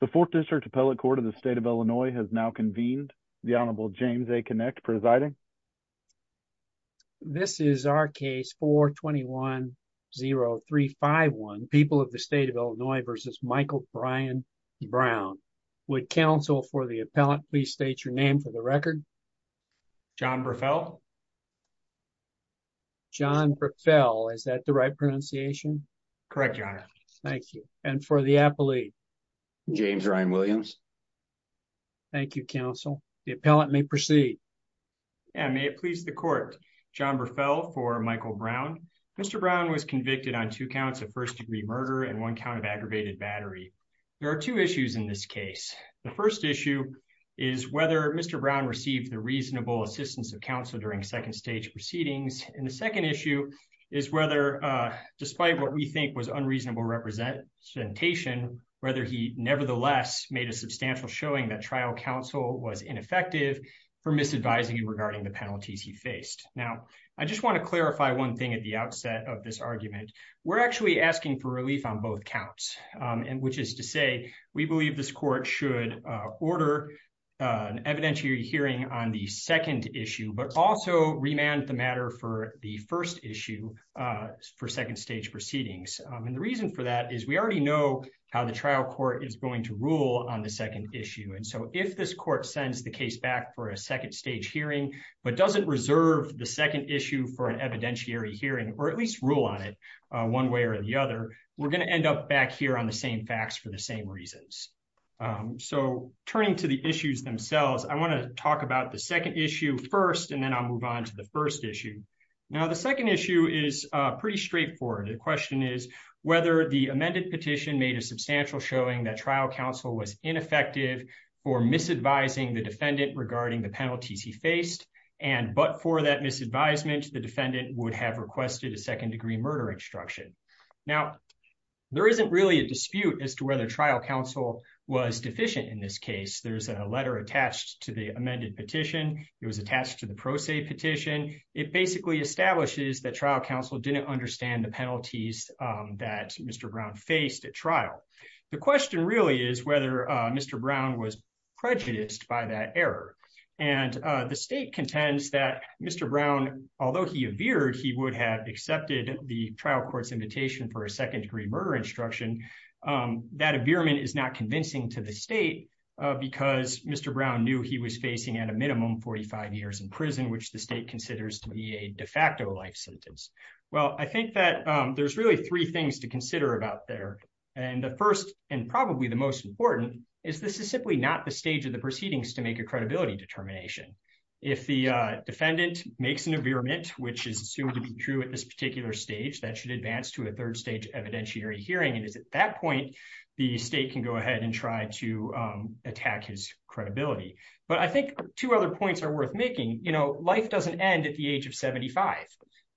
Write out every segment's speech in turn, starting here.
The 4th District Appellate Court of the State of Illinois has now convened. The Honorable James A. Kinect presiding. This is our case 421-0351, People of the State of Illinois v. Michael Brian Brown. Would counsel for the appellant please state your name for the record? John Burfell. John Burfell, is that the right pronunciation? Correct, Your Honor. Thank you. And for the appellate? James Ryan Williams. Thank you, counsel. The appellant may proceed. May it please the court. John Burfell for Michael Brown. Mr. Brown was convicted on two counts of first degree murder and one count of aggravated battery. There are two issues in this case. The first issue is whether Mr. Brown received the reasonable assistance of counsel during second stage proceedings. And the second issue is whether, despite what we think was unreasonable representation, whether he nevertheless made a substantial showing that trial counsel was ineffective for misadvising regarding the penalties he faced. Now, I just want to clarify one thing at the outset of this argument. We're actually asking for relief on both counts, which is to say we believe this court should order an evidentiary hearing on the second issue, but also remand the matter for the first issue for second stage proceedings. And the reason for that is we already know how the trial court is going to rule on the second issue. And so if this court sends the case back for a second stage hearing, but doesn't reserve the second issue for an evidentiary hearing, or at least rule on it one way or the other, we're going to end up back here on the same facts for the same reasons. So turning to the issues themselves, I want to talk about the second issue first, and then I'll move on to the first issue. Now, the second issue is pretty straightforward. The question is whether the amended petition made a substantial showing that trial counsel was ineffective for misadvising the defendant regarding the penalties he faced. And but for that misadvisement, the defendant would have requested a second degree murder instruction. Now, there isn't really a dispute as to whether trial counsel was deficient in this case. There's a letter attached to the amended petition. It was attached to the pro se petition. It basically establishes that trial counsel didn't understand the penalties that Mr. Brown faced at trial. The question really is whether Mr. Brown was prejudiced by that error. And the state contends that Mr. Brown, although he appeared, he would have accepted the trial court's invitation for a second degree murder instruction. That is not convincing to the state because Mr. Brown knew he was facing at a minimum 45 years in prison, which the state considers to be a de facto life sentence. Well, I think that there's really three things to consider about there. And the first and probably the most important is this is simply not the stage of the proceedings to make a credibility determination. If the defendant makes an agreement, which is assumed to be true at this particular stage, that should advance to a third stage evidentiary hearing. And is at that point, the state can go ahead and try to attack his credibility. But I think two other points are worth making. You know, life doesn't end at the age of 75.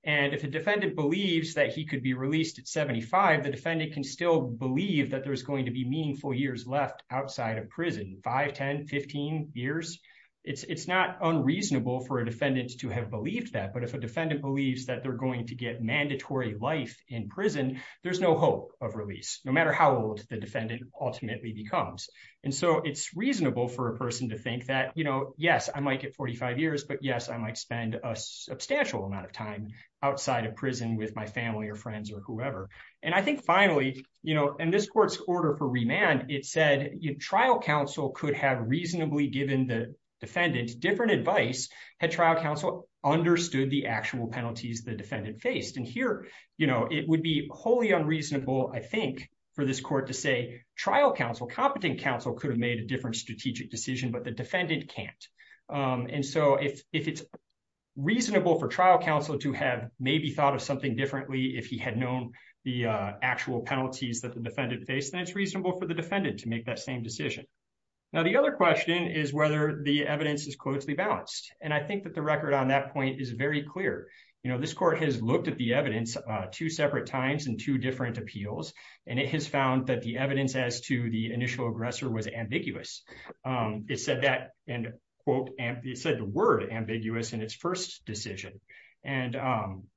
And if a defendant believes that he could be released at 75, the defendant can still believe that there is going to be meaningful years left outside of prison. Five, 10, 15 years. It's not unreasonable for a defendant to have believed that. But if a defendant believes that they're going to get mandatory life in prison, there's no hope of release, no matter how old the defendant ultimately becomes. And so it's reasonable for a person to think that, you know, yes, I might get 45 years, but yes, I might spend a substantial amount of time outside of prison with my family or friends or whoever. And I think finally, you know, in this court's order for remand, it said trial counsel could have reasonably given the defendant different advice had trial counsel understood the actual penalties the defendant faced. And here, you know, it would be wholly unreasonable, I think, for this court to say trial counsel, competent counsel could have made a different strategic decision, but the defendant can't. And so if it's reasonable for trial counsel to have maybe thought of something differently if he had known the actual penalties that the defendant faced, then it's reasonable for the defendant to make that same decision. Now the other question is whether the evidence is closely balanced. And I think that the record on that point is very clear. You know, this court has looked at the evidence, two separate times and two different appeals, and it has found that the evidence as to the initial aggressor was ambiguous. It said that, and it said the word ambiguous in its first decision. And,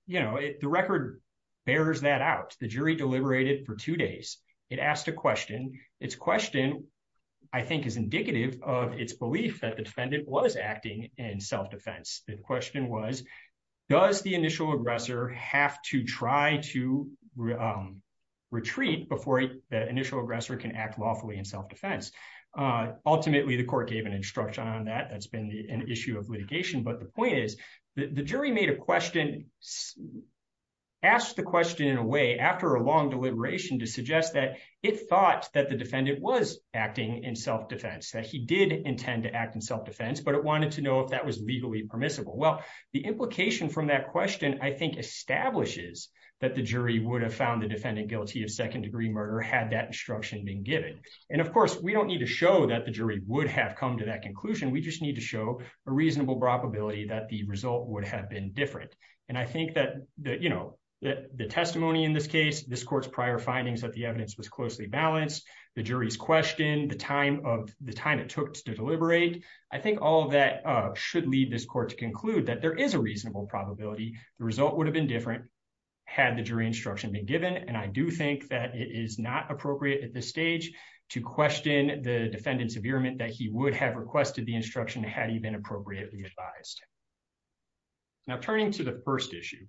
you know, the record bears that out. The jury deliberated for two days. It asked a question. And its question, I think, is indicative of its belief that the defendant was acting in self-defense. The question was, does the initial aggressor have to try to retreat before the initial aggressor can act lawfully in self-defense. Ultimately, the court gave an instruction on that. That's been an issue of litigation. But the point is that the jury made a question, asked the question in a way after a long deliberation to suggest that it thought that the defendant was acting in self-defense, that he did intend to act in self-defense, but it wanted to know if that was legally permissible. Well, the implication from that question, I think, establishes that the jury would have found the defendant guilty of second-degree murder had that instruction been given. And, of course, we don't need to show that the jury would have come to that conclusion. We just need to show a reasonable probability that the result would have been different. And I think that, you know, the testimony in this case, this court's prior findings that the evidence was closely balanced, the jury's question, the time it took to deliberate, I think all of that should lead this court to conclude that there is a reasonable probability the result would have been different had the jury instruction been given. And I do think that it is not appropriate at this stage to question the defendant's averement that he would have requested the instruction had he been appropriately advised. Now, turning to the first issue.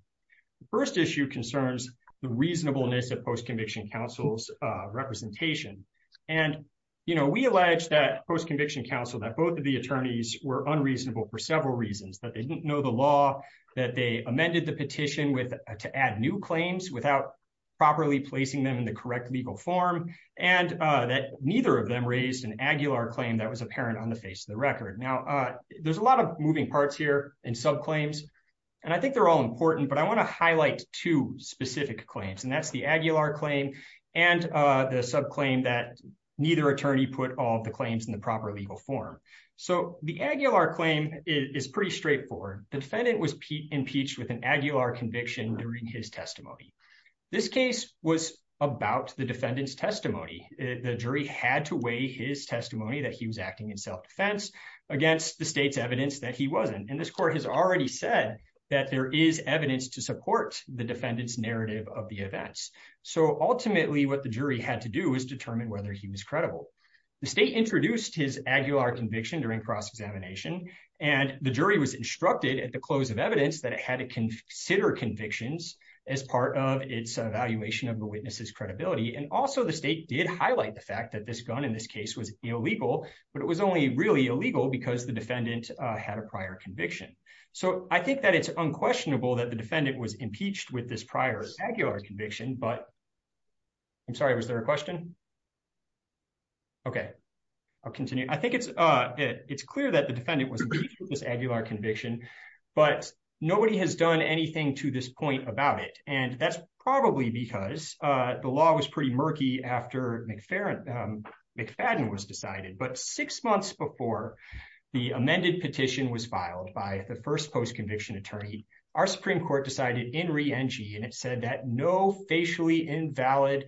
The first issue concerns the reasonableness of post-conviction counsel's representation. And, you know, we allege that post-conviction counsel, that both of the attorneys were unreasonable for several reasons. That they didn't know the law, that they amended the petition to add new claims without properly placing them in the correct legal form, and that neither of them raised an Aguilar claim that was apparent on the face of the record. Now, there's a lot of moving parts here in subclaims, and I think they're all important, but I want to highlight two specific claims, and that's the Aguilar claim and the subclaim that neither attorney put all the claims in the proper legal form. So, the Aguilar claim is pretty straightforward. The defendant was impeached with an Aguilar conviction during his testimony. This case was about the defendant's testimony. The jury had to weigh his testimony that he was acting in self-defense against the state's evidence that he wasn't, and this court has already said that there is evidence to support the defendant's narrative of the events. So, ultimately, what the jury had to do is determine whether he was credible. The state introduced his Aguilar conviction during cross-examination, and the jury was instructed at the close of evidence that it had to consider convictions as part of its evaluation of the witness's credibility, and also the state did highlight the fact that this gun in this case was illegal, but it was only really illegal because the defendant had a prior conviction. So, I think that it's unquestionable that the defendant was impeached with this prior Aguilar conviction, but I'm sorry, was there a question? Okay, I'll continue. I think it's clear that the defendant was impeached with this Aguilar conviction, but nobody has done anything to this point about it, and that's probably because the law was pretty murky after McFadden was decided, but six months before the amended petition was filed by the first post-conviction attorney, our Supreme Court decided in re-engi, and it said that no facially invalid,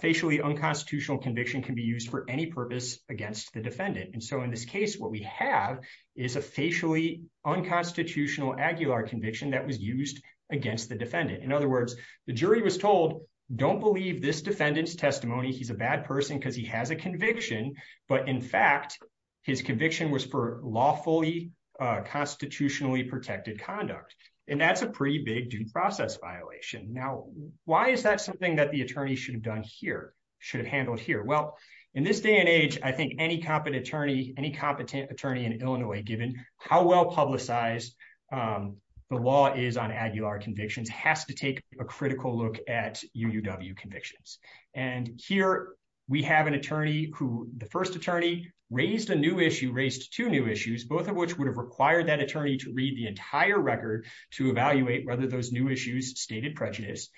facially unconstitutional conviction can be used for any purpose against the defendant, and so in this case what we have is a facially unconstitutional Aguilar conviction that was used against the defendant. In other words, the jury was told, don't believe this defendant's testimony, he's a bad person because he has a conviction, but in fact, his conviction was for lawfully constitutionally protected conduct, and that's a pretty big due process violation. Now, why is that something that the attorney should have done here, should have handled here? Well, in this day and age, I think any competent attorney, any competent attorney in Illinois, given how well publicized the law is on Aguilar convictions, has to take a critical look at UUW convictions, and here we have an attorney who, the first attorney raised a new issue, raised two new issues, both of which would have required that attorney to read the entire record to evaluate whether those new issues stated prejudice.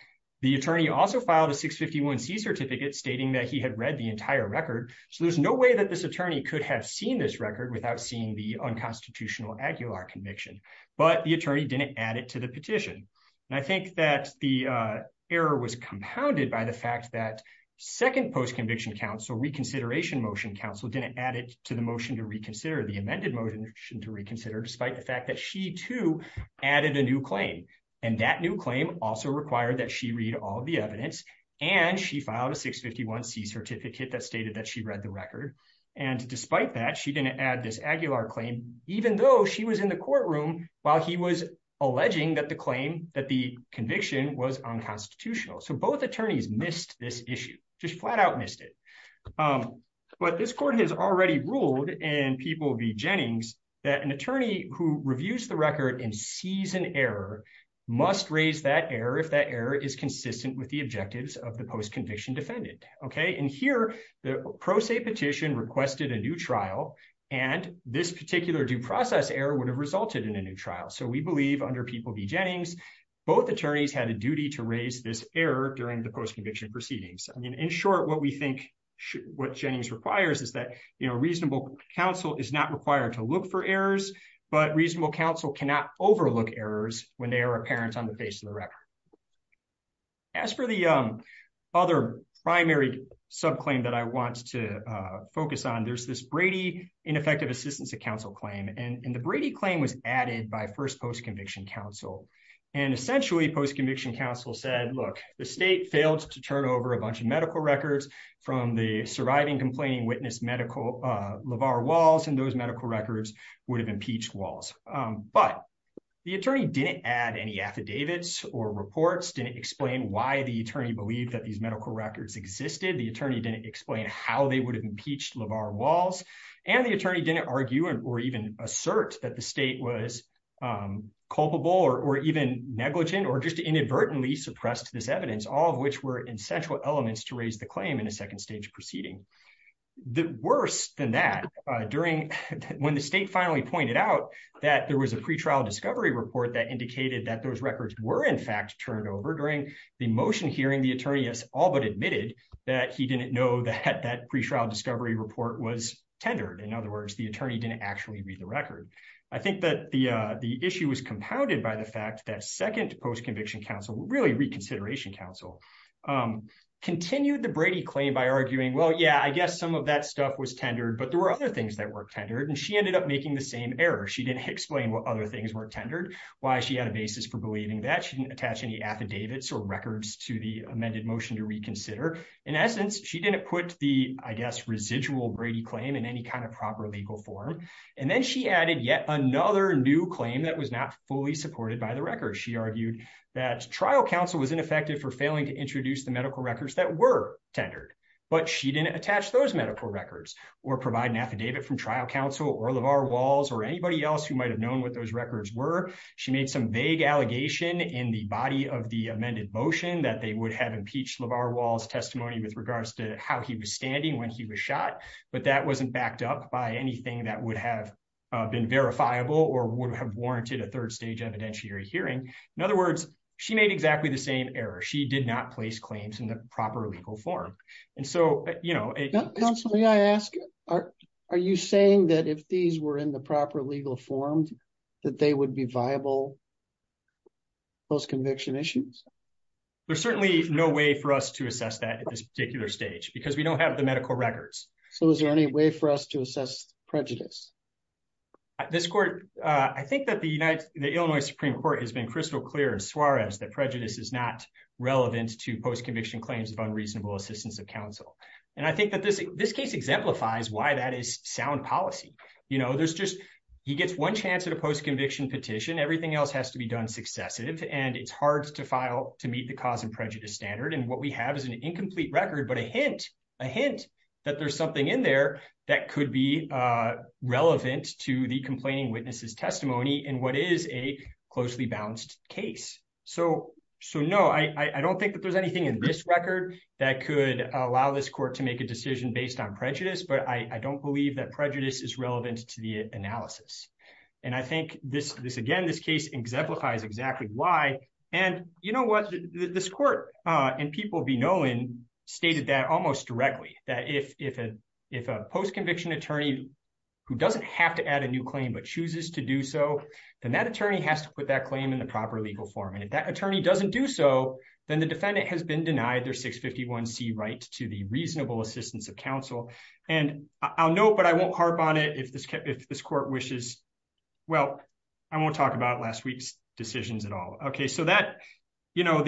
The attorney also filed a 651C certificate stating that he had read the entire record, so there's no way that this attorney could have seen this record without seeing the unconstitutional Aguilar conviction, but the attorney didn't add it to the petition. And I think that the error was compounded by the fact that second post-conviction counsel, reconsideration motion counsel, didn't add it to the motion to reconsider, the amended motion to reconsider, despite the fact that she, too, added a new claim, and that new claim also required that she read all of the evidence, and she filed a 651C certificate that stated that she read the record, and despite that, she didn't add this Aguilar claim, even though she was in the courtroom while he was alleging that the claim, that the conviction was unconstitutional, so both attorneys missed this issue, just flat out missed it. But this court has already ruled in People v. Jennings that an attorney who reviews the record and sees an error must raise that error if that error is consistent with the objectives of the post-conviction defendant, okay? And here, the pro se petition requested a new trial, and this particular due process error would have resulted in a new trial, so we believe under People v. Jennings, both attorneys had a duty to raise this error during the post-conviction proceedings. In short, what we think what Jennings requires is that reasonable counsel is not required to look for errors, but reasonable counsel cannot overlook errors when they are apparent on the face of the record. As for the other primary subclaim that I want to focus on, there's this Brady ineffective assistance to counsel claim, and the Brady claim was added by first post-conviction counsel, and essentially post-conviction counsel said, look, the state failed to turn over a bunch of medical records from the surviving complaining witness LeVar Walls, and those medical records would have impeached Walls. But the attorney didn't add any affidavits or reports, didn't explain why the attorney believed that these medical records existed, the attorney didn't explain how they would have impeached LeVar Walls, and the attorney didn't argue or even assert that the state was culpable or even negligent or just inadvertently suppressed this evidence, all of which were essential elements to raise the claim in a second stage proceeding. Worse than that, when the state finally pointed out that there was a pretrial discovery report that indicated that those records were in fact turned over, during the motion hearing, the attorney has all but admitted that he didn't know that that pretrial discovery report was tendered. In other words, the attorney didn't actually read the record. I think that the issue was compounded by the fact that second post-conviction counsel, really reconsideration counsel, continued the Brady claim by arguing, well, yeah, I guess some of that stuff was tendered, but there were other things that were tendered, and she ended up making the same error. She didn't explain what other things were tendered, why she had a basis for believing that, she didn't attach any affidavits or records to the amended motion to reconsider. In essence, she didn't put the, I guess, residual Brady claim in any kind of proper legal form. And then she added yet another new claim that was not fully supported by the record. She argued that trial counsel was ineffective for failing to introduce the medical records that were tendered. But she didn't attach those medical records or provide an affidavit from trial counsel or LaVar Walls or anybody else who might have known what those records were. She made some vague allegation in the body of the amended motion that they would have impeached LaVar Walls' testimony with regards to how he was standing when he was shot, but that wasn't backed up by anything that would have been verifiable or would have warranted a third stage evidentiary hearing. In other words, she made exactly the same error. She did not place claims in the proper legal form. And so, you know... Counsel, may I ask, are you saying that if these were in the proper legal form, that they would be viable post-conviction issues? There's certainly no way for us to assess that at this particular stage because we don't have the medical records. So is there any way for us to assess prejudice? I think that the Illinois Supreme Court has been crystal clear in Suarez that prejudice is not relevant to post-conviction claims of unreasonable assistance of counsel. And I think that this case exemplifies why that is sound policy. You know, he gets one chance at a post-conviction petition. Everything else has to be done successive. And it's hard to file to meet the cause and prejudice standard. And what we have is an incomplete record, but a hint, a hint that there's something in there that could be relevant to the complaining witnesses testimony in what is a closely balanced case. So, no, I don't think that there's anything in this record that could allow this court to make a decision based on prejudice, but I don't believe that prejudice is relevant to the analysis. And I think this again, this case exemplifies exactly why. And you know what, this court and people be knowing stated that almost directly that if a post-conviction attorney who doesn't have to add a new claim but chooses to do so, then that attorney has to put that claim in the proper legal form. And if that attorney doesn't do so, then the defendant has been denied their 651C right to the reasonable assistance of counsel. And I'll note, but I won't harp on it if this court wishes. Well, I won't talk about last week's decisions at all. Okay, so that, you know,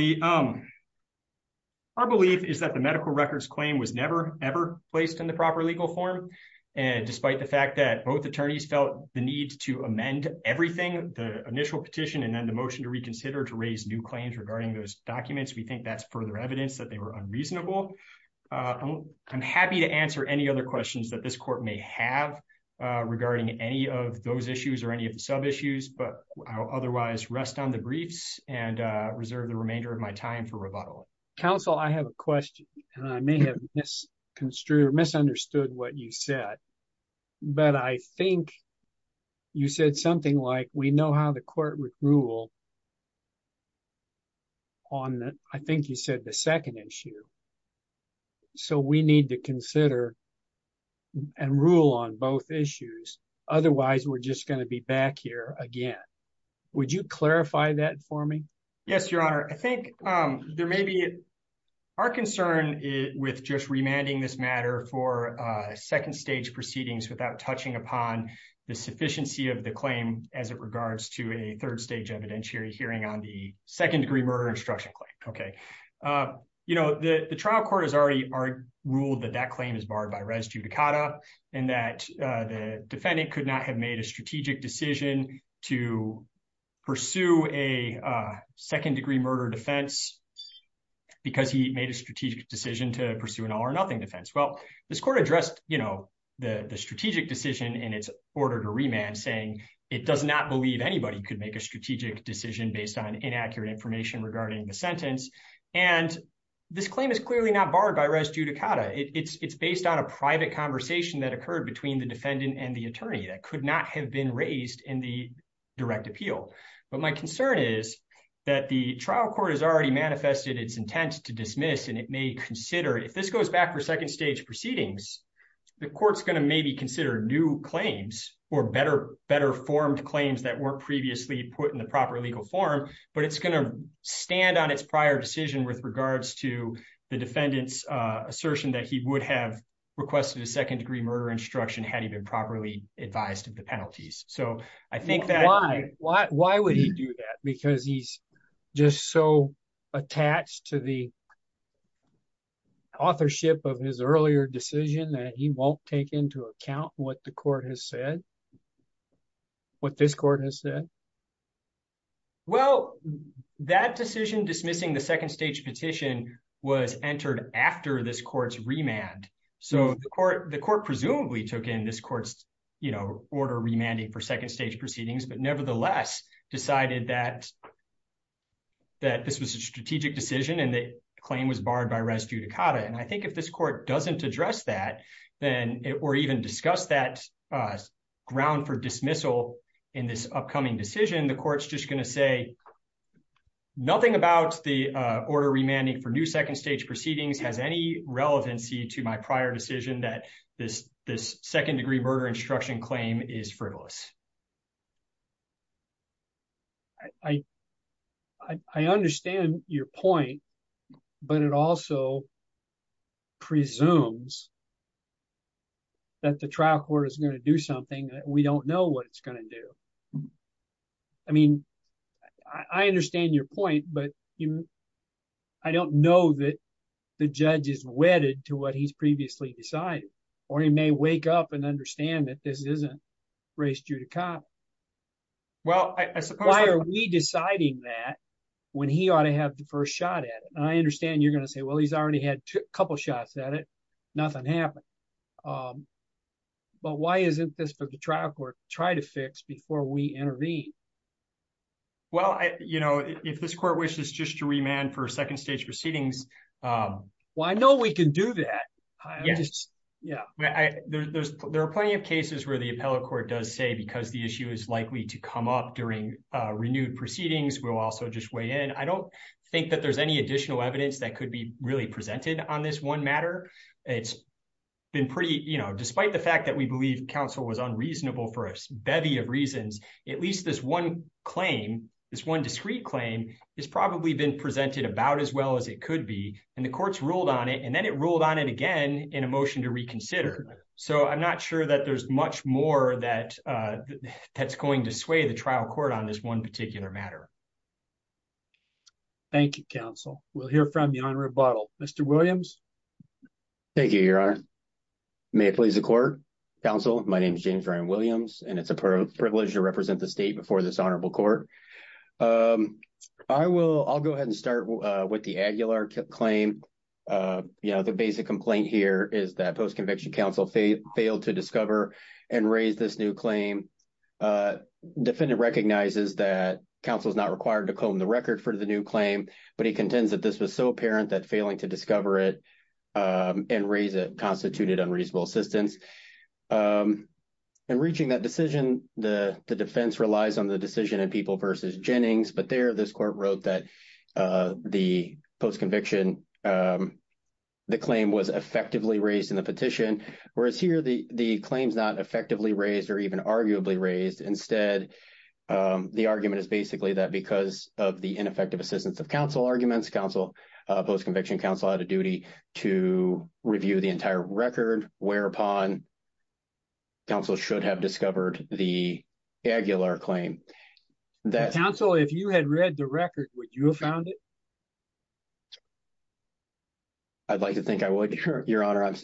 our belief is that the medical records claim was never ever placed in the proper legal form. And despite the fact that both attorneys felt the need to amend everything, the initial petition and then the motion to reconsider to raise new claims regarding those documents, we think that's further evidence that they were unreasonable. I'm happy to answer any other questions that this court may have regarding any of those issues or any of the sub issues, but I'll otherwise rest on the briefs and reserve the remainder of my time for rebuttal. Counsel, I have a question, and I may have misunderstood what you said, but I think you said something like we know how the court would rule on, I think you said the second issue. So we need to consider and rule on both issues. Otherwise, we're just going to be back here again. Would you clarify that for me? Yes, Your Honor, I think there may be our concern with just remanding this matter for second stage proceedings without touching upon the sufficiency of the claim as it regards to a third stage evidentiary hearing on the second degree murder instruction claim. Okay. You know, the trial court has already ruled that that claim is barred by res judicata and that the defendant could not have made a strategic decision to pursue a second degree murder defense because he made a strategic decision to pursue an all or nothing defense. Well, this court addressed the strategic decision in its order to remand saying it does not believe anybody could make a strategic decision based on inaccurate information regarding the sentence. And this claim is clearly not barred by res judicata. It's based on a private conversation that occurred between the defendant and the attorney that could not have been raised in the direct appeal. But my concern is that the trial court has already manifested its intent to dismiss and it may consider if this goes back for second stage proceedings, the court's going to maybe consider new claims or better formed claims that weren't previously put in the proper legal form. But it's going to stand on its prior decision with regards to the defendant's assertion that he would have requested a second degree murder instruction had he been properly advised of the penalties. Why would he do that? Because he's just so attached to the authorship of his earlier decision that he won't take into account what the court has said? What this court has said? Well, that decision dismissing the second stage petition was entered after this court's remand. So the court presumably took in this court's order remanding for second stage proceedings, but nevertheless decided that this was a strategic decision and the claim was barred by res judicata. And I think if this court doesn't address that, or even discuss that ground for dismissal in this upcoming decision, the court's just going to say, nothing about the order remanding for new second stage proceedings has any relevancy to my prior decision that this second degree murder instruction claim is frivolous. I understand your point, but it also presumes that the trial court is going to do something that we don't know what it's going to do. I mean, I understand your point, but I don't know that the judge is wedded to what he's previously decided, or he may wake up and understand that this isn't res judicata. Why are we deciding that when he ought to have the first shot at it? I understand you're going to say, well, he's already had a couple shots at it. Nothing happened. But why isn't this for the trial court to try to fix before we intervene? Well, you know, if this court wishes just to remand for second stage proceedings. Well, I know we can do that. Yeah, there are plenty of cases where the appellate court does say, because the issue is likely to come up during renewed proceedings, we'll also just weigh in. I don't think that there's any additional evidence that could be really presented on this one matter. It's been pretty, you know, despite the fact that we believe counsel was unreasonable for a bevy of reasons, at least this one claim, this one discrete claim, has probably been presented about as well as it could be. And the court's ruled on it, and then it ruled on it again in a motion to reconsider. So I'm not sure that there's much more that's going to sway the trial court on this one particular matter. Thank you, counsel. We'll hear from the Honorable Buttle. Mr. Williams? Thank you, Your Honor. May it please the court? Counsel, my name is James Ryan Williams, and it's a privilege to represent the state before this honorable court. I will go ahead and start with the Aguilar claim. You know, the basic complaint here is that post-conviction counsel failed to discover and raise this new claim. Defendant recognizes that counsel is not required to comb the record for the new claim, but he contends that this was so apparent that failing to discover it and raise it constituted unreasonable assistance. And reaching that decision, the defense relies on the decision of People v. Jennings. But there, this court wrote that the post-conviction, the claim was effectively raised in the petition, whereas here the claim is not effectively raised or even arguably raised. Instead, the argument is basically that because of the ineffective assistance of counsel arguments, counsel, post-conviction counsel had a duty to review the entire record, whereupon counsel should have discovered the Aguilar claim. Counsel, if you had read the record, would you have found it? I'd like to think I would, Your Honor. I'm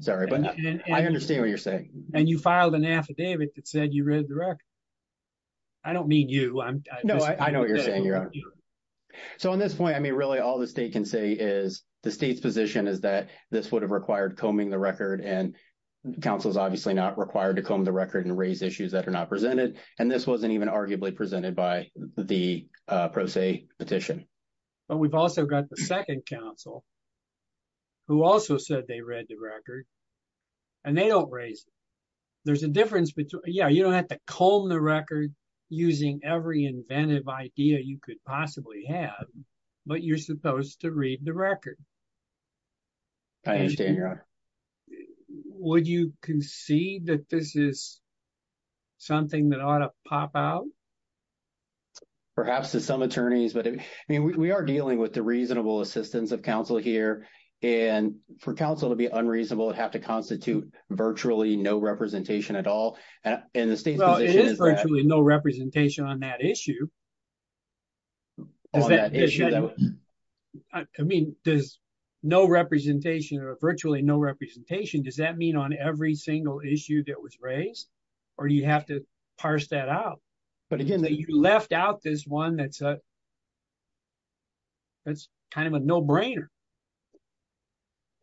sorry, but I understand what you're saying. And you filed an affidavit that said you read the record. I don't mean you. No, I know what you're saying, Your Honor. So on this point, I mean, really all the state can say is the state's position is that this would have required combing the record. And counsel is obviously not required to comb the record and raise issues that are not presented. And this wasn't even arguably presented by the pro se petition. But we've also got the second counsel who also said they read the record and they don't raise it. There's a difference between, yeah, you don't have to comb the record using every inventive idea you could possibly have, but you're supposed to read the record. I understand, Your Honor. Would you concede that this is something that ought to pop out? Perhaps to some attorneys, but I mean, we are dealing with the reasonable assistance of counsel here. And for counsel to be unreasonable, it have to constitute virtually no representation at all. Well, it is virtually no representation on that issue. I mean, there's no representation or virtually no representation. Does that mean on every single issue that was raised or you have to parse that out? But again, you left out this one that's kind of a no brainer.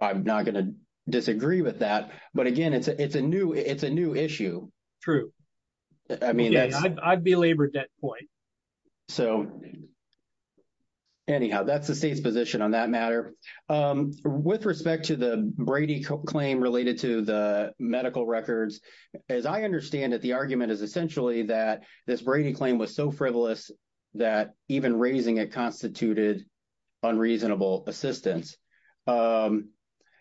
I'm not going to disagree with that. But again, it's a new issue. True. True. I mean, I'd be labored at that point. So anyhow, that's the state's position on that matter. With respect to the Brady claim related to the medical records, as I understand it, the argument is essentially that this Brady claim was so frivolous that even raising it constituted unreasonable assistance.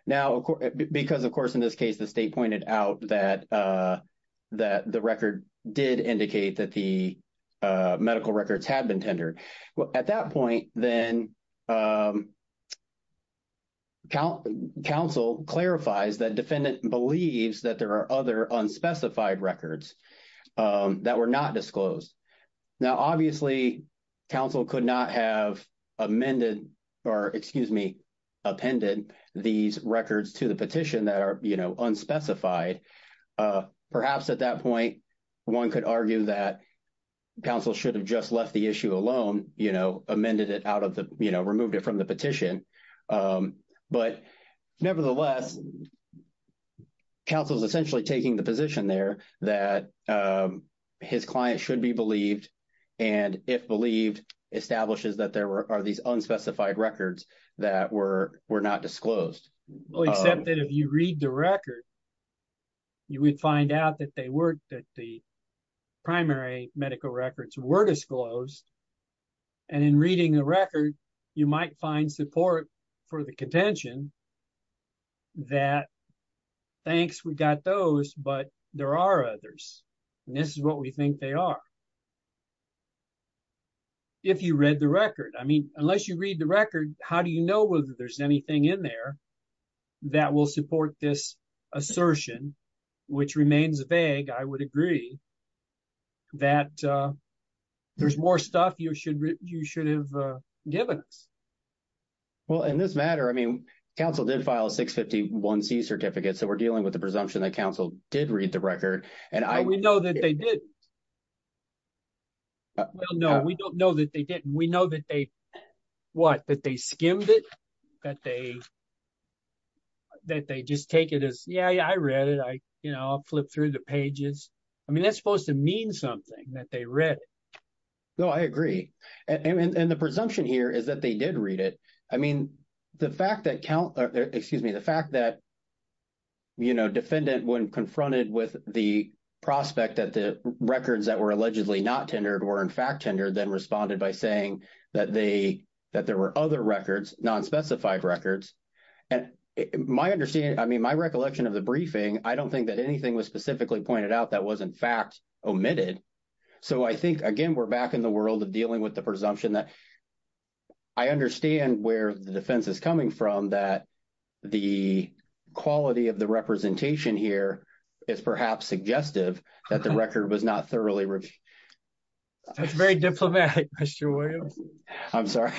Now, because, of course, in this case, the state pointed out that the record did indicate that the medical records had been tendered. At that point, then, counsel clarifies that defendant believes that there are other unspecified records that were not disclosed. Now, obviously, counsel could not have amended or, excuse me, appended these records to the petition that are unspecified. Perhaps at that point, one could argue that counsel should have just left the issue alone, amended it out of the — removed it from the petition. But nevertheless, counsel is essentially taking the position there that his client should be believed, and if believed, establishes that there are these unspecified records that were not disclosed. Well, except that if you read the record, you would find out that the primary medical records were disclosed, and in reading the record, you might find support for the contention that, thanks, we got those, but there are others, and this is what we think they are. If you read the record. I mean, unless you read the record, how do you know whether there's anything in there that will support this assertion, which remains vague, I would agree, that there's more stuff you should have given us? Well, in this matter, I mean, counsel did file a 651C certificate, so we're dealing with the presumption that counsel did read the record. Well, we know that they didn't. Well, no, we don't know that they didn't. We know that they, what, that they skimmed it, that they just take it as, yeah, yeah, I read it, I flipped through the pages. I mean, that's supposed to mean something, that they read it. No, I agree. And the presumption here is that they did read it. I mean, the fact that, excuse me, the fact that defendant when confronted with the prospect that the records that were allegedly not tendered were, in fact, tendered, then responded by saying that they, that there were other records, nonspecified records. And my understanding, I mean, my recollection of the briefing, I don't think that anything was specifically pointed out that was, in fact, omitted. So I think, again, we're back in the world of dealing with the presumption that I understand where the defense is coming from, that the quality of the representation here is perhaps suggestive that the record was not thoroughly reviewed. That's very diplomatic, Mr. Williams. I'm sorry.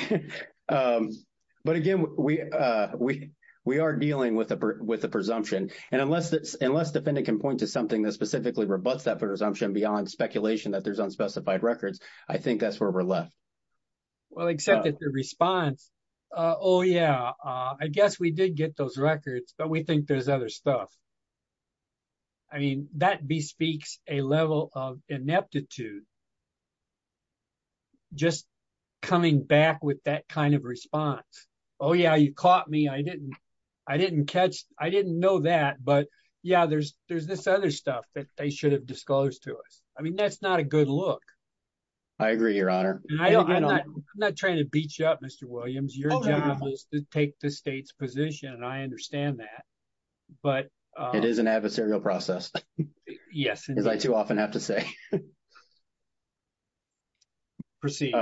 But again, we are dealing with the presumption. And unless defendant can point to something that specifically rebuts that presumption beyond speculation that there's unspecified records, I think that's where we're left. Well, except that the response, oh, yeah, I guess we did get those records, but we think there's other stuff. I mean, that bespeaks a level of ineptitude, just coming back with that kind of response. Oh, yeah, you caught me. I didn't, I didn't catch, I didn't know that. But, yeah, there's, there's this other stuff that they should have disclosed to us. I mean, that's not a good look. I agree, Your Honor. I'm not trying to beat you up, Mr. Williams. Your job is to take the state's position. And I understand that. But it is an adversarial process. Yes. As I too often have to say. Proceed.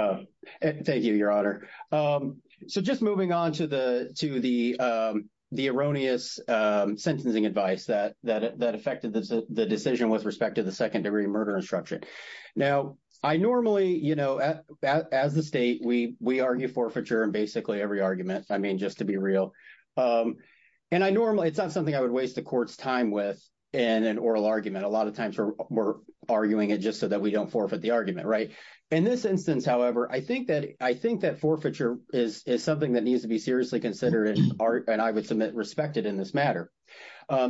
Thank you, Your Honor. So just moving on to the erroneous sentencing advice that affected the decision with respect to the second degree murder instruction. Now, I normally, you know, as the state, we argue forfeiture in basically every argument, I mean, just to be real. And I normally, it's not something I would waste the court's time with in an oral argument. A lot of times we're arguing it just so that we don't forfeit the argument, right? In this instance, however, I think that forfeiture is something that needs to be seriously considered and I would submit respected in this matter.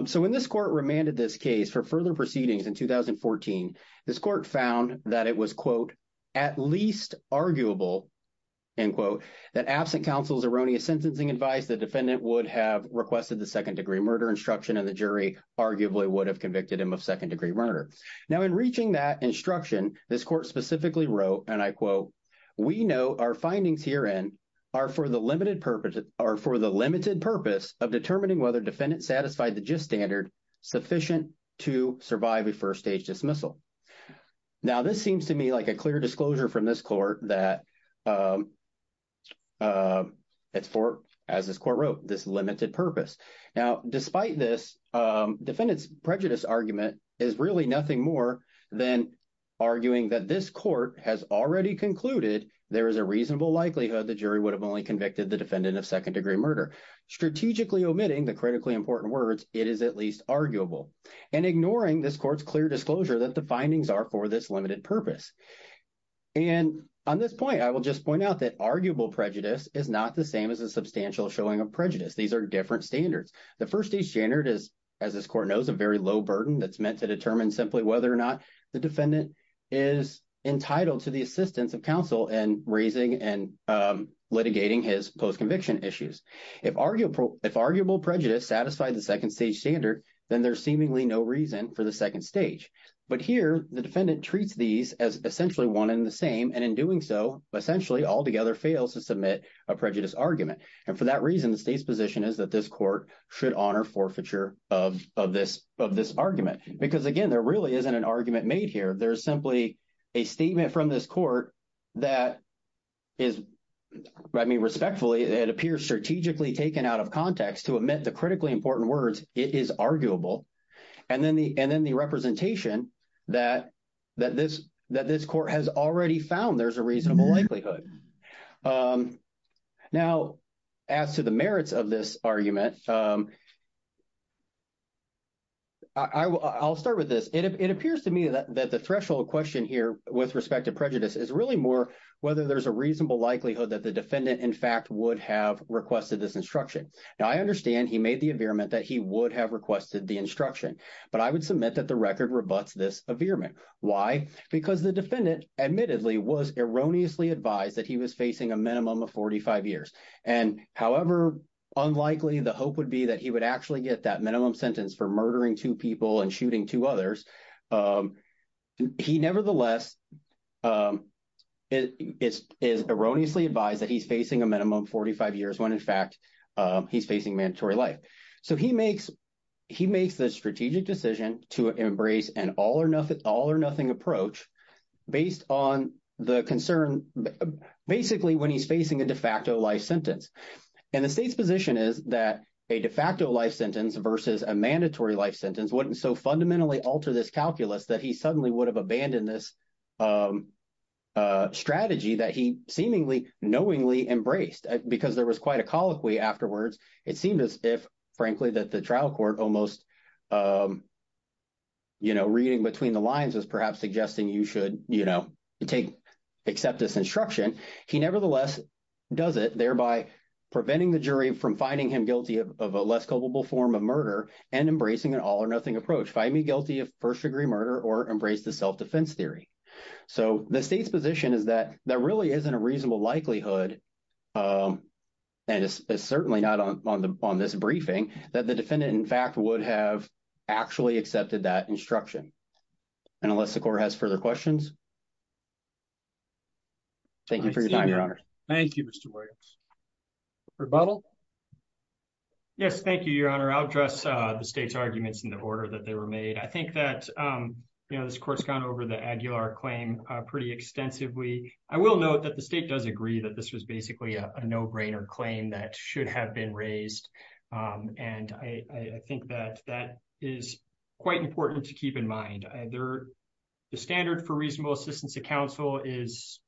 So when this court remanded this case for further proceedings in 2014, this court found that it was, quote, at least arguable, end quote, that absent counsel's erroneous sentencing advice, the defendant would have requested the second degree murder instruction and the jury arguably would have convicted him of second degree murder. Now, in reaching that instruction, this court specifically wrote, and I quote, we know our findings herein are for the limited purpose of determining whether defendants satisfied the gist standard sufficient to survive a first-stage dismissal. Now, this seems to me like a clear disclosure from this court that it's for, as this court wrote, this limited purpose. Now, despite this, defendant's prejudice argument is really nothing more than arguing that this court has already concluded there is a reasonable likelihood the jury would have only convicted the defendant of second degree murder. Strategically omitting the critically important words, it is at least arguable, and ignoring this court's clear disclosure that the findings are for this limited purpose. And on this point, I will just point out that arguable prejudice is not the same as a substantial showing of prejudice. These are different standards. The first-stage standard is, as this court knows, a very low burden that's meant to determine simply whether or not the defendant is entitled to the assistance of counsel in raising and litigating his post-conviction issues. If arguable prejudice satisfied the second-stage standard, then there's seemingly no reason for the second stage. But here, the defendant treats these as essentially one and the same, and in doing so, essentially altogether fails to submit a prejudice argument. And for that reason, the state's position is that this court should honor forfeiture of this argument. Because, again, there really isn't an argument made here. There's simply a statement from this court that is, I mean, respectfully, it appears strategically taken out of context to omit the critically important words, it is arguable. And then the representation that this court has already found there's a reasonable likelihood. Now, as to the merits of this argument, I'll start with this. It appears to me that the threshold question here with respect to prejudice is really more whether there's a reasonable likelihood that the defendant, in fact, would have requested this instruction. Now, I understand he made the averement that he would have requested the instruction. But I would submit that the record rebutts this averement. Why? Because the defendant, admittedly, was erroneously advised that he was facing a minimum of 45 years. And however unlikely the hope would be that he would actually get that minimum sentence for murdering two people and shooting two others, he nevertheless is erroneously advised that he's facing a minimum of 45 years when, in fact, he's facing mandatory life. So he makes the strategic decision to embrace an all-or-nothing approach based on the concern basically when he's facing a de facto life sentence. And the state's position is that a de facto life sentence versus a mandatory life sentence wouldn't so fundamentally alter this calculus that he suddenly would have abandoned this strategy that he seemingly knowingly embraced. Because there was quite a colloquy afterwards, it seemed as if, frankly, that the trial court almost reading between the lines was perhaps suggesting you should take – accept this instruction. He nevertheless does it, thereby preventing the jury from finding him guilty of a less culpable form of murder and embracing an all-or-nothing approach, find me guilty of first-degree murder or embrace the self-defense theory. So the state's position is that there really isn't a reasonable likelihood, and it's certainly not on this briefing, that the defendant, in fact, would have actually accepted that instruction. And unless the court has further questions, thank you for your time, Your Honor. Thank you, Mr. Williams. Rebuttal? Yes, thank you, Your Honor. I'll address the state's arguments in the order that they were made. I think that, you know, this court's gone over the Aguilar claim pretty extensively. I will note that the state does agree that this was basically a no-brainer claim that should have been raised. And I think that that is quite important to keep in mind. The standard for reasonable assistance to counsel is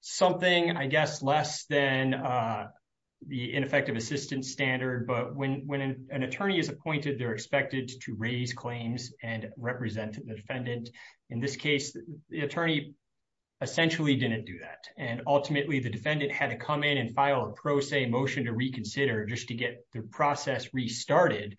something, I guess, less than the ineffective assistance standard. But when an attorney is appointed, they're expected to raise claims and represent the defendant. In this case, the attorney essentially didn't do that. And ultimately, the defendant had to come in and file a pro se motion to reconsider just to get the process restarted.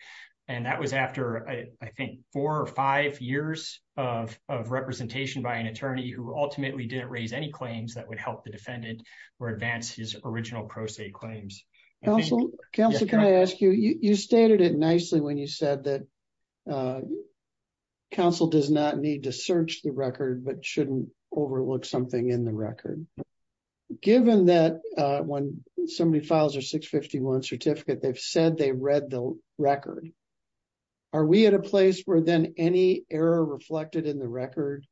And that was after, I think, four or five years of representation by an attorney who ultimately didn't raise any claims that would help the defendant or advance his original pro se claims. Counsel, can I ask you, you stated it nicely when you said that counsel does not need to search the record but shouldn't overlook something in the record. Given that when somebody files their 651 certificate, they've said they read the record. Are we at a place where then any error reflected in the record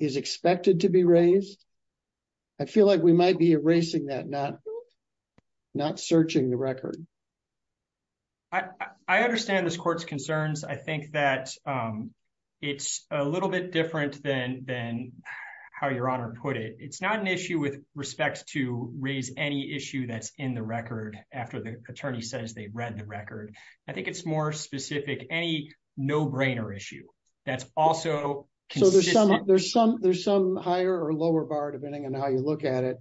is expected to be raised? I feel like we might be erasing that, not searching the record. I understand this court's concerns. I think that it's a little bit different than how Your Honor put it. It's not an issue with respect to raise any issue that's in the record after the attorney says they've read the record. I think it's more specific, any no-brainer issue that's also consistent. There's some higher or lower bar depending on how you look at it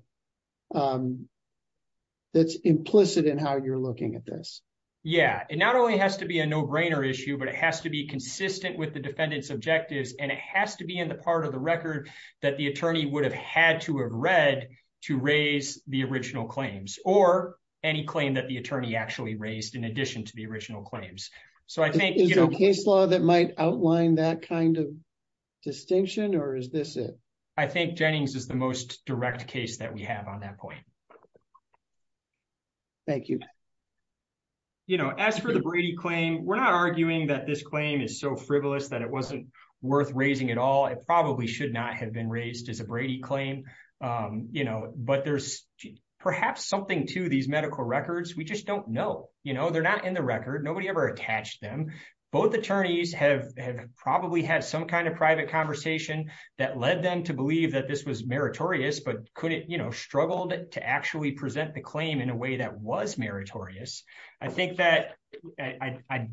that's implicit in how you're looking at this. Yeah, it not only has to be a no-brainer issue but it has to be consistent with the defendant's objectives and it has to be in the part of the record that the attorney would have had to have read to raise the original claims or any claim that the attorney actually raised in addition to the original claims. Is there a case law that might outline that kind of distinction or is this it? I think Jennings is the most direct case that we have on that point. Thank you. As for the Brady claim, we're not arguing that this claim is so frivolous that it wasn't worth raising at all. It probably should not have been raised as a Brady claim. But there's perhaps something to these medical records. We just don't know. They're not in the record. Nobody ever attached them. Both attorneys have probably had some kind of private conversation that led them to believe that this was meritorious but struggled to actually present the claim in a way that was meritorious. I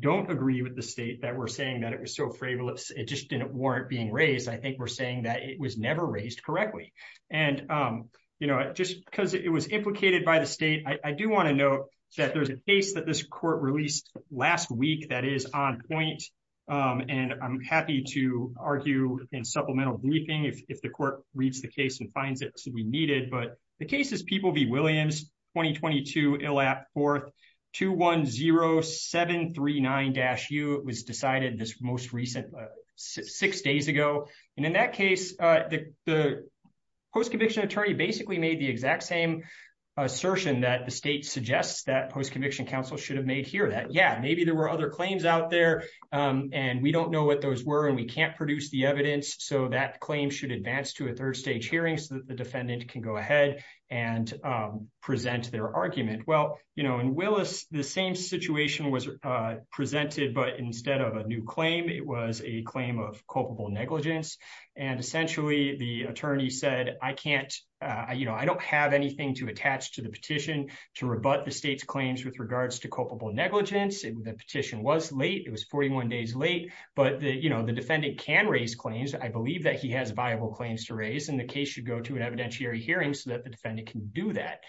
don't agree with the state that we're saying that it was so frivolous. It just didn't warrant being raised. I think we're saying that it was never raised correctly. Just because it was implicated by the state, I do want to note that there's a case that this court released last week that is on point. I'm happy to argue in supplemental briefing if the court reads the case and finds it to be needed. The case is People v. Williams, 2022, ILAP 4th, 210739-U. It was decided six days ago. In that case, the post-conviction attorney basically made the exact same assertion that the state suggests that post-conviction counsel should have made here. Maybe there were other claims out there, and we don't know what those were, and we can't produce the evidence. That claim should advance to a third-stage hearing so that the defendant can go ahead and present their argument. In Willis, the same situation was presented, but instead of a new claim, it was a claim of culpable negligence. Essentially, the attorney said, I don't have anything to attach to the petition to rebut the state's claims with regards to culpable negligence. The petition was late. It was 41 days late, but the defendant can raise claims. I believe that he has viable claims to raise, and the case should go to an evidentiary hearing so that the defendant can do that.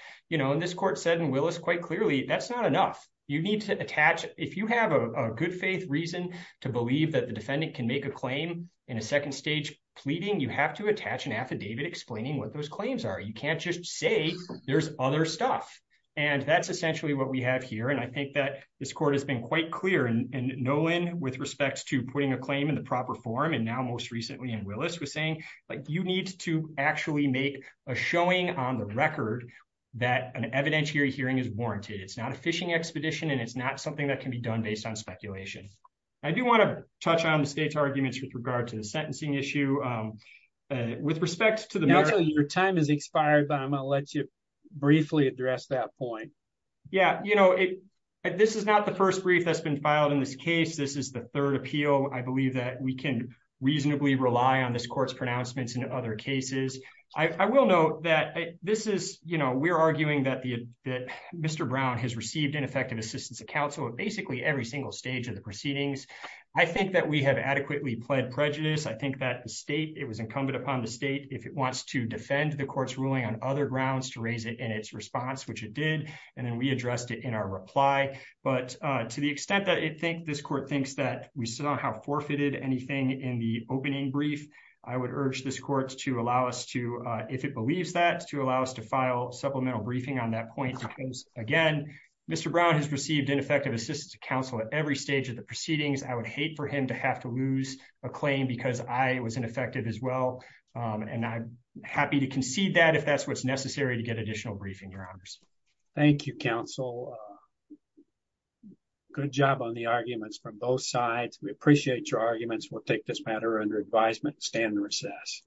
This court said in Willis quite clearly, that's not enough. If you have a good-faith reason to believe that the defendant can make a claim in a second-stage pleading, you have to attach an affidavit explaining what those claims are. You can't just say there's other stuff, and that's essentially what we have here. I think that this court has been quite clear in Nolan with respect to putting a claim in the proper form, and now most recently in Willis, was saying, you need to actually make a showing on the record that an evidentiary hearing is warranted. It's not a fishing expedition, and it's not something that can be done based on speculation. I do want to touch on the state's arguments with regard to the sentencing issue. With respect to the merits... Your time has expired, but I'm going to let you briefly address that point. This is not the first brief that's been filed in this case. This is the third appeal. I believe that we can reasonably rely on this court's pronouncements in other cases. I will note that we're arguing that Mr. Brown has received ineffective assistance of counsel at basically every single stage of the proceedings. I think that we have adequately pled prejudice. I think that it was incumbent upon the state, if it wants to defend the court's ruling on other grounds, to raise it in its response, which it did, and then we addressed it in our reply. But to the extent that this court thinks that we somehow forfeited anything in the opening brief, I would urge this court, if it believes that, to allow us to file supplemental briefing on that point. Because, again, Mr. Brown has received ineffective assistance of counsel at every stage of the proceedings. I would hate for him to have to lose a claim because I was ineffective as well. And I'm happy to concede that if that's what's necessary to get additional briefing, Your Honors. Thank you, counsel. Good job on the arguments from both sides. We appreciate your arguments. We'll take this matter under advisement and stand in recess.